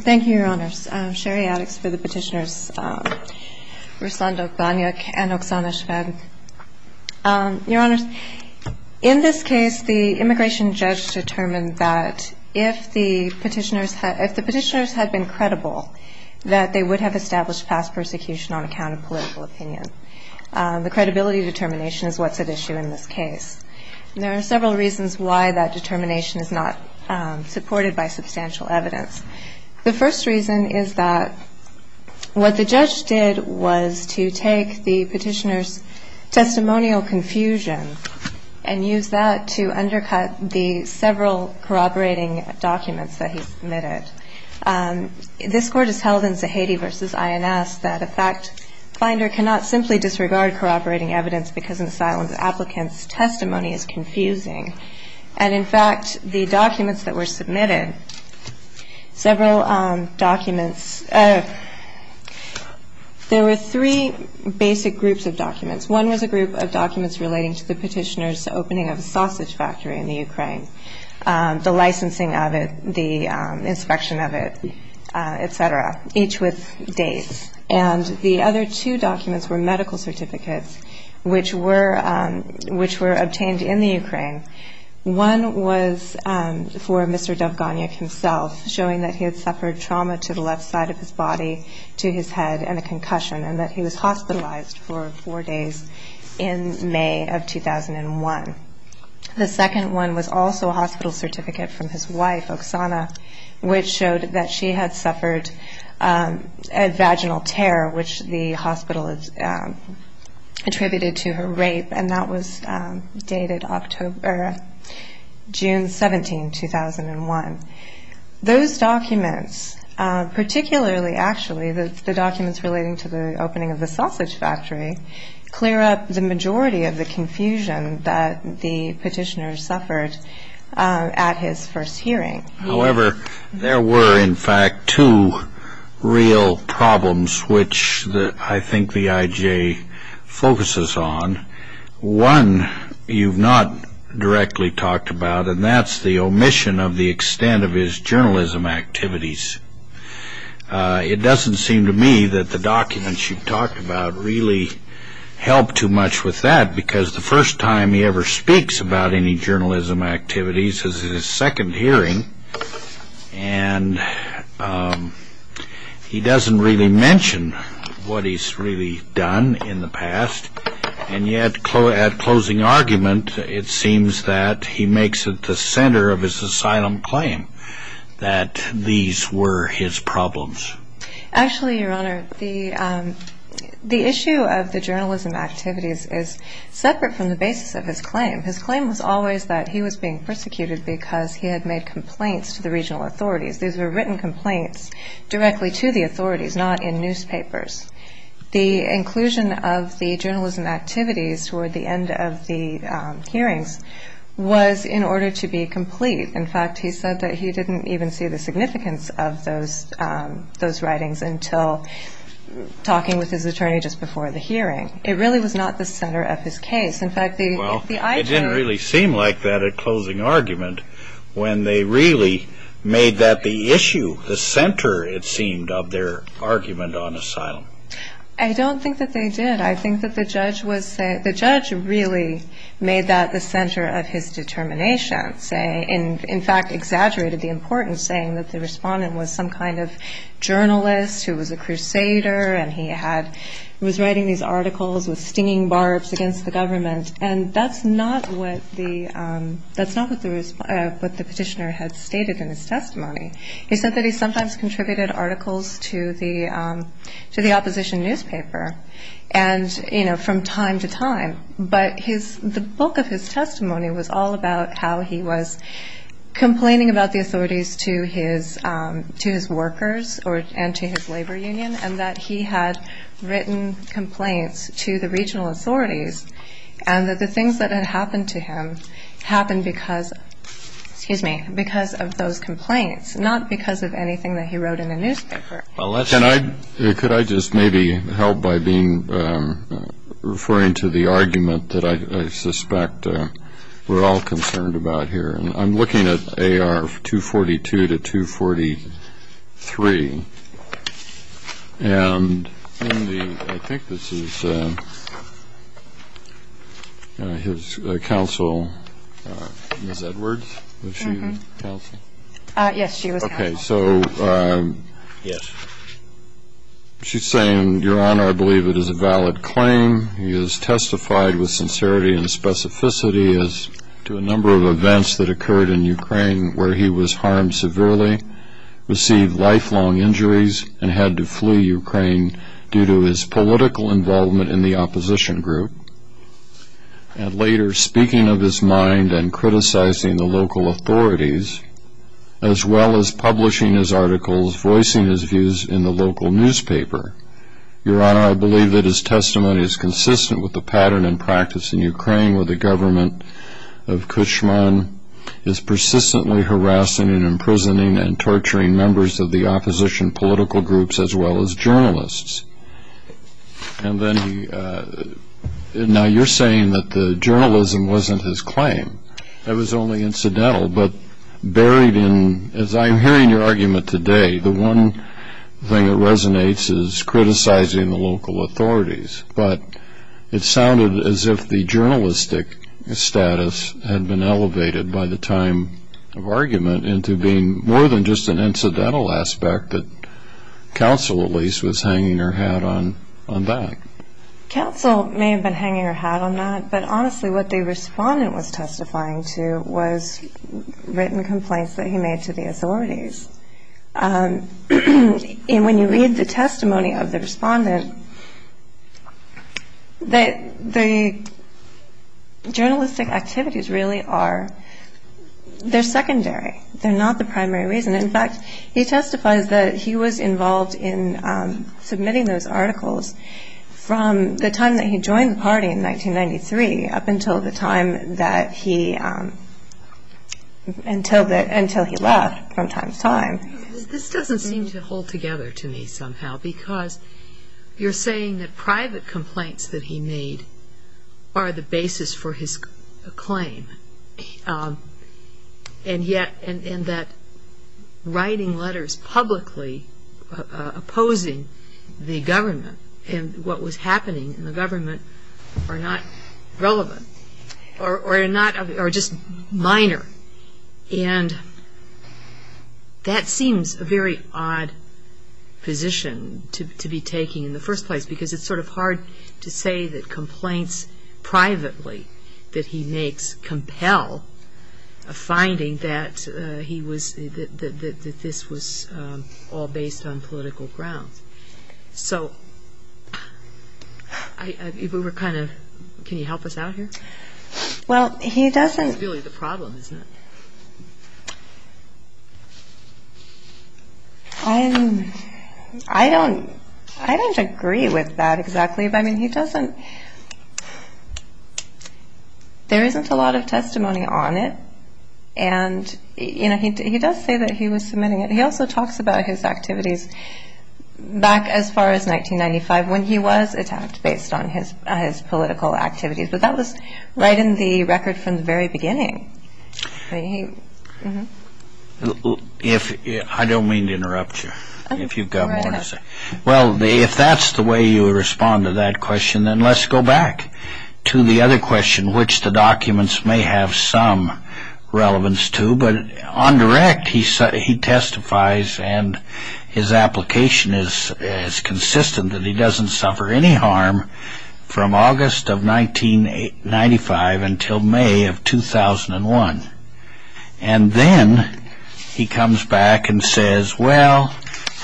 Thank you, your honors. I'm Sherry Addix for the petitioners Ruslan Dovganyuk and Oksana Shved. Your honors, in this case, the immigration judge determined that if the petitioners had been credible, that they would have established past persecution on account of political opinion. The credibility determination is what's at issue in this case. There are several reasons why that determination is not supported by substantial evidence. The first reason is that what the judge did was to take the petitioners' testimonial confusion and use that to undercut the several corroborating documents that he submitted. This court has held in Zahedi v. INS that a fact finder cannot simply disregard corroborating evidence because an asylum applicant's testimony is confusing. And in fact, the documents that were submitted, several documents, there were three basic groups of documents. One was a group of documents relating to the petitioners' opening of a sausage factory in the Ukraine, the licensing of it, the inspection of it, et cetera, each with dates. And the other two documents were medical certificates, which were obtained in the Ukraine. One was for Mr. Dovganyuk himself, showing that he had suffered trauma to the left side of his body, to his head, and a concussion, and that he was hospitalized for four days in May of 2001. The second one was also a hospital certificate from his wife, Oksana, which showed that she had suffered a vaginal tear, which the hospital attributed to her rape, and that was dated June 17, 2001. Those documents, particularly actually the documents relating to the opening of the sausage factory, clear up the majority of the confusion that the petitioners suffered at his first hearing. However, there were, in fact, two real problems which I think the IJ focuses on. One you've not directly talked about, and that's the omission of the extent of his journalism activities. It doesn't seem to me that the documents you've talked about really help too much with that, because the first time he ever speaks about any journalism activities is his second hearing, and he doesn't really mention what he's really done in the past. And yet, at closing argument, it seems that he makes it the center of his asylum claim that these were his problems. Actually, Your Honor, the issue of the journalism activities is separate from the basis of his claim. His claim was always that he was being persecuted because he had made complaints to the regional authorities. These were written complaints directly to the authorities, not in newspapers. The inclusion of the journalism activities toward the end of the hearings was in order to be complete. In fact, he said that he didn't even see the significance of those writings until talking with his attorney just before the hearing. It really was not the center of his case. In fact, the IJ- Well, it didn't really seem like that at closing argument when they really made that the issue, the center, it seemed, of their argument on asylum. I don't think that they did. I think that the judge really made that the center of his determination, in fact, exaggerated the importance, saying that the respondent was some kind of journalist who was a crusader and he was writing these articles with stinging barbs against the government. And that's not what the petitioner had stated in his testimony. He said that he sometimes contributed articles to the opposition newspaper. And, you know, from time to time. But the bulk of his testimony was all about how he was complaining about the authorities to his workers and to his labor union and that he had written complaints to the regional authorities and that the things that had happened to him happened because of those complaints, not because of anything that he wrote in a newspaper. Well, let's- Can I-could I just maybe help by being-referring to the argument that I suspect we're all concerned about here? I'm looking at AR-242 to 243. And in the-I think this is his counsel, Ms. Edwards? Was she the counsel? Yes, she was the counsel. Okay, so she's saying, Your Honor, I believe it is a valid claim. He has testified with sincerity and specificity as to a number of events that occurred in Ukraine where he was harmed severely, received lifelong injuries, and had to flee Ukraine due to his political involvement in the opposition group. And later, speaking of his mind and criticizing the local authorities, as well as publishing his articles, voicing his views in the local newspaper, Your Honor, I believe that his testimony is consistent with the pattern and practice in Ukraine where the government of Kushman is persistently harassing and imprisoning and torturing members of the opposition political groups as well as journalists. And then he-now, you're saying that the journalism wasn't his claim. It was only incidental, but buried in-as I'm hearing your argument today, the one thing that resonates is criticizing the local authorities. But it sounded as if the journalistic status had been elevated by the time of argument into being more than just an incidental aspect that counsel, at least, was hanging her hat on back. Counsel may have been hanging her hat on that, but honestly what the respondent was testifying to was written complaints that he made to the authorities. And when you read the testimony of the respondent, the journalistic activities really are-they're secondary. They're not the primary reason. In fact, he testifies that he was involved in submitting those articles from the time that he joined the party in 1993 up until the time that he-until he left from time to time. This doesn't seem to hold together to me somehow because you're saying that private complaints that he made are the basis for his claim and yet-and that writing letters publicly opposing the government and what was happening in the government are not relevant or are not-are just minor. And that seems a very odd position to be taking in the first place because it's sort of hard to say that complaints privately that he makes compel a finding that he was-that this was all based on political grounds. So if we were kind of-can you help us out here? Well, he doesn't- That's really the problem, isn't it? I'm-I don't-I don't agree with that exactly. I mean, he doesn't-there isn't a lot of testimony on it. And, you know, he does say that he was submitting it. He also talks about his activities back as far as 1995 when he was attacked based on his political activities. But that was right in the record from the very beginning. He- If-I don't mean to interrupt you if you've got more to say. Well, if that's the way you would respond to that question, then let's go back to the other question which the documents may have some relevance to. But on direct, he testifies and his application is consistent that he doesn't suffer any harm from August of 1995 until May of 2001. And then he comes back and says, well,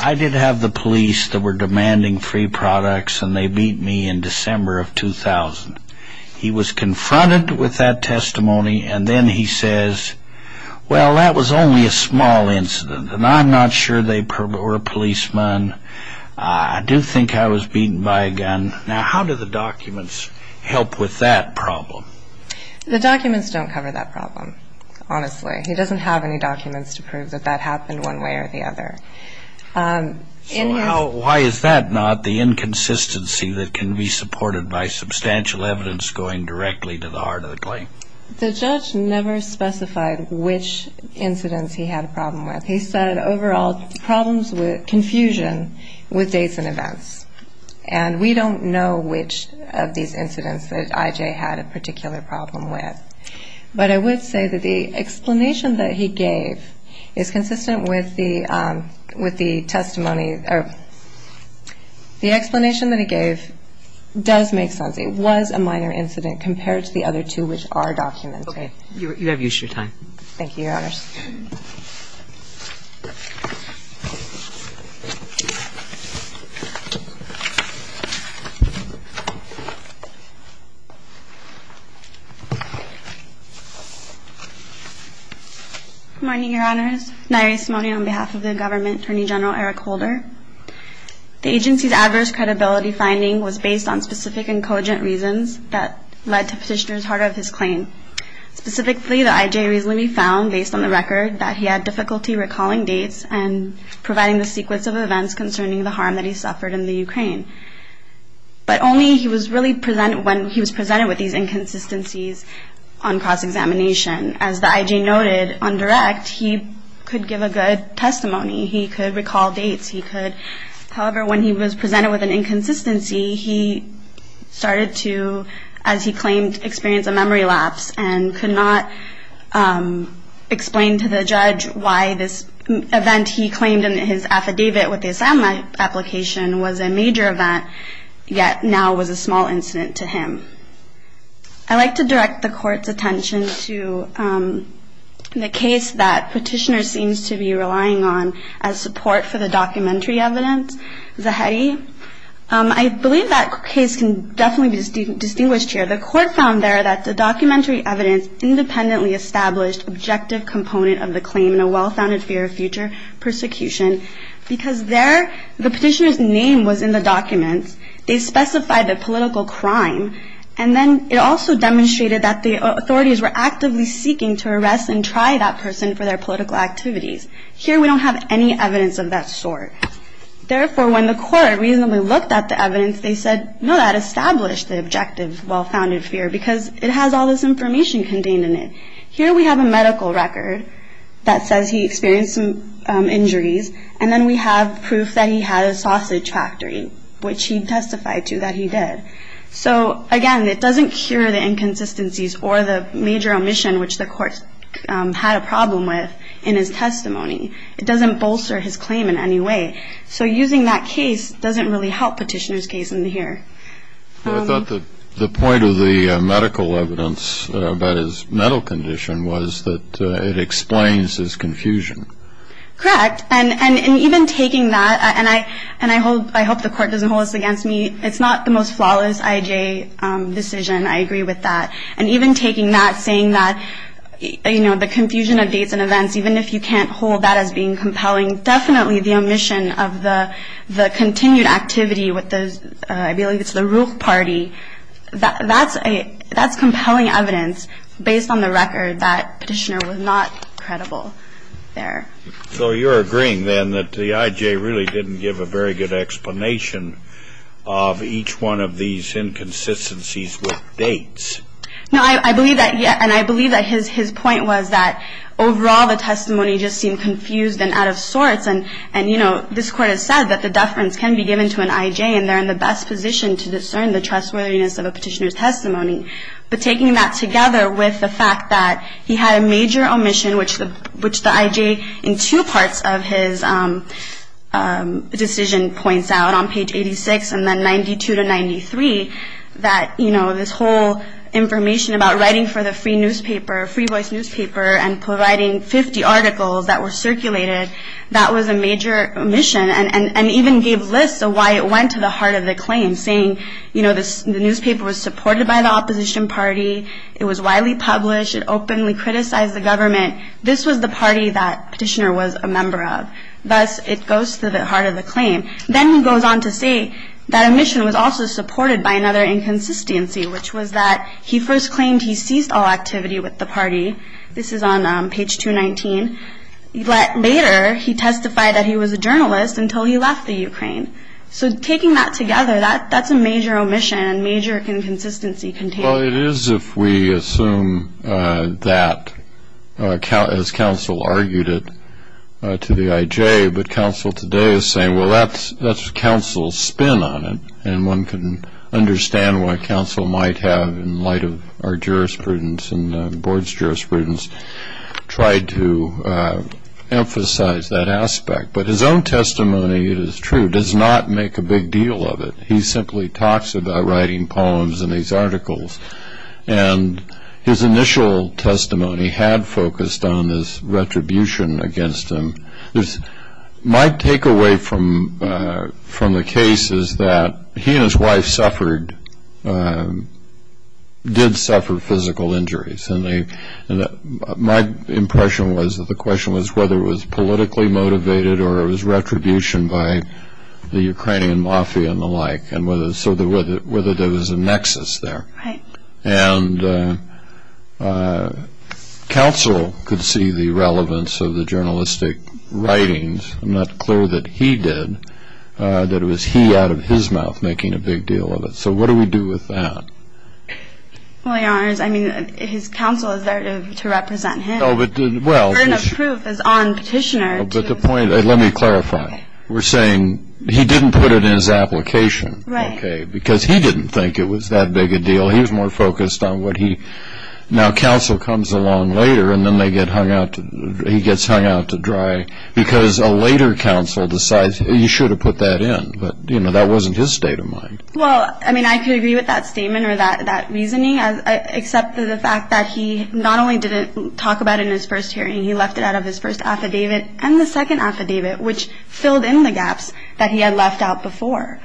I did have the police that were demanding free products and they beat me in December of 2000. He was confronted with that testimony and then he says, well, that was only a small incident and I'm not sure they-or a policeman. I do think I was beaten by a gun. Now, how do the documents help with that problem? The documents don't cover that problem, honestly. He doesn't have any documents to prove that that happened one way or the other. So why is that not the inconsistency that can be supported by substantial evidence going directly to the heart of the claim? The judge never specified which incidents he had a problem with. He said overall problems with confusion with dates and events. And we don't know which of these incidents that I.J. had a particular problem with. But I would say that the explanation that he gave is consistent with the testimony or the explanation that he gave does make sense. It was a minor incident compared to the other two which are documented. You have used your time. Thank you, Your Honors. Good morning, Your Honors. Nyree Simone on behalf of the government, Attorney General Eric Holder. The agency's adverse credibility finding was based on specific and cogent reasons that led to Petitioner's heart of his claim. Specifically, the I.J. recently found, based on the record, that he had difficulty recalling dates and providing the sequence of events concerning the harm that he suffered in the Ukraine. But only when he was presented with these inconsistencies on cross-examination. As the I.J. noted on direct, he could give a good testimony. He could recall dates. However, when he was presented with an inconsistency, he started to, as he claimed, experience a memory lapse and could not explain to the judge why this event he claimed in his affidavit with the assignment application was a major event, yet now was a small incident to him. I'd like to direct the Court's attention to the case that Petitioner seems to be relying on as support for the documentary evidence, Zahedi. I believe that case can definitely be distinguished here. The Court found there that the documentary evidence independently established objective component of the claim in a well-founded fear of future persecution because there the Petitioner's name was in the documents. They specified the political crime. And then it also demonstrated that the authorities were actively seeking to arrest and try that person for their political activities. Here we don't have any evidence of that sort. Therefore, when the Court reasonably looked at the evidence, they said, no, that established the objective well-founded fear because it has all this information contained in it. Here we have a medical record that says he experienced some injuries, and then we have proof that he had a sausage factory, which he testified to that he did. So, again, it doesn't cure the inconsistencies or the major omission, which the Court had a problem with in his testimony. It doesn't bolster his claim in any way. So using that case doesn't really help Petitioner's case in here. I thought the point of the medical evidence about his mental condition was that it explains his confusion. Correct. And even taking that, and I hope the Court doesn't hold this against me, it's not the most flawless IJ decision. I agree with that. And even taking that, saying that, you know, the confusion of dates and events, even if you can't hold that as being compelling, definitely the omission of the continued activity with those, I believe it's the Ruch party, that's compelling evidence based on the record that Petitioner was not credible there. So you're agreeing then that the IJ really didn't give a very good explanation of each one of these inconsistencies with dates? No, I believe that, and I believe that his point was that, overall, the testimony just seemed confused and out of sorts. And, you know, this Court has said that the deference can be given to an IJ and they're in the best position to discern the trustworthiness of a Petitioner's testimony. But taking that together with the fact that he had a major omission, which the IJ in two parts of his decision points out on page 86 and then 92 to 93, that, you know, this whole information about writing for the free newspaper, free voice newspaper, and providing 50 articles that were circulated, that was a major omission and even gave lists of why it went to the heart of the claim, saying, you know, the newspaper was supported by the opposition party, it was widely published, it openly criticized the government. This was the party that Petitioner was a member of. Thus, it goes to the heart of the claim. Then he goes on to say that omission was also supported by another inconsistency, which was that he first claimed he seized all activity with the party. This is on page 219. Later, he testified that he was a journalist until he left the Ukraine. So taking that together, that's a major omission and major inconsistency contained. Well, it is if we assume that, as counsel argued it to the IJ, but counsel today is saying, well, that's counsel's spin on it, and one can understand what counsel might have, in light of our jurisprudence and the board's jurisprudence, tried to emphasize that aspect. But his own testimony, it is true, does not make a big deal of it. He simply talks about writing poems and these articles. And his initial testimony had focused on this retribution against him. My takeaway from the case is that he and his wife did suffer physical injuries, and my impression was that the question was whether it was politically motivated or it was retribution by the Ukrainian mafia and the like, and whether there was a nexus there. Right. And counsel could see the relevance of the journalistic writings. I'm not clear that he did, that it was he out of his mouth making a big deal of it. So what do we do with that? Well, Your Honors, I mean, his counsel is there to represent him. No, but, well. The burden of proof is on Petitioner to. But the point, let me clarify. We're saying he didn't put it in his application. Right. Okay, because he didn't think it was that big a deal. He was more focused on what he. Now, counsel comes along later, and then he gets hung out to dry because a later counsel decides he should have put that in. But, you know, that wasn't his state of mind. Well, I mean, I could agree with that statement or that reasoning, except for the fact that he not only didn't talk about it in his first hearing, he left it out of his first affidavit and the second affidavit, which filled in the gaps that he had left out before.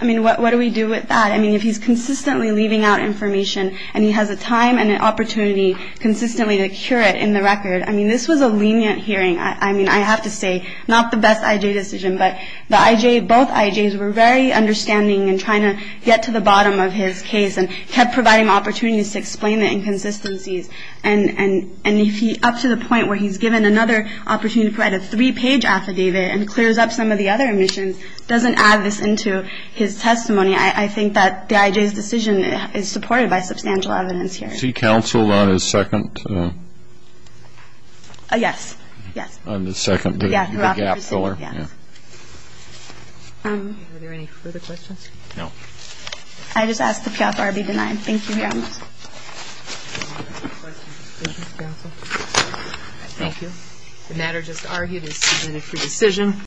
I mean, what do we do with that? I mean, if he's consistently leaving out information and he has the time and the opportunity consistently to cure it in the record. I mean, this was a lenient hearing. I mean, I have to say, not the best IJ decision, but the IJ, both IJs were very understanding and trying to get to the bottom of his case and kept providing opportunities to explain the inconsistencies. And if he, up to the point where he's given another opportunity to provide a three-page affidavit and clears up some of the other omissions, doesn't add this into his testimony, I think that the IJ's decision is supported by substantial evidence here. Is he counseled on his second? Yes, yes. On his second, the gap filler? Yes. Are there any further questions? No. I just ask the PFR be denied. Thank you, Your Honor. Thank you, counsel. Thank you. The matter just argued is submitted for decision.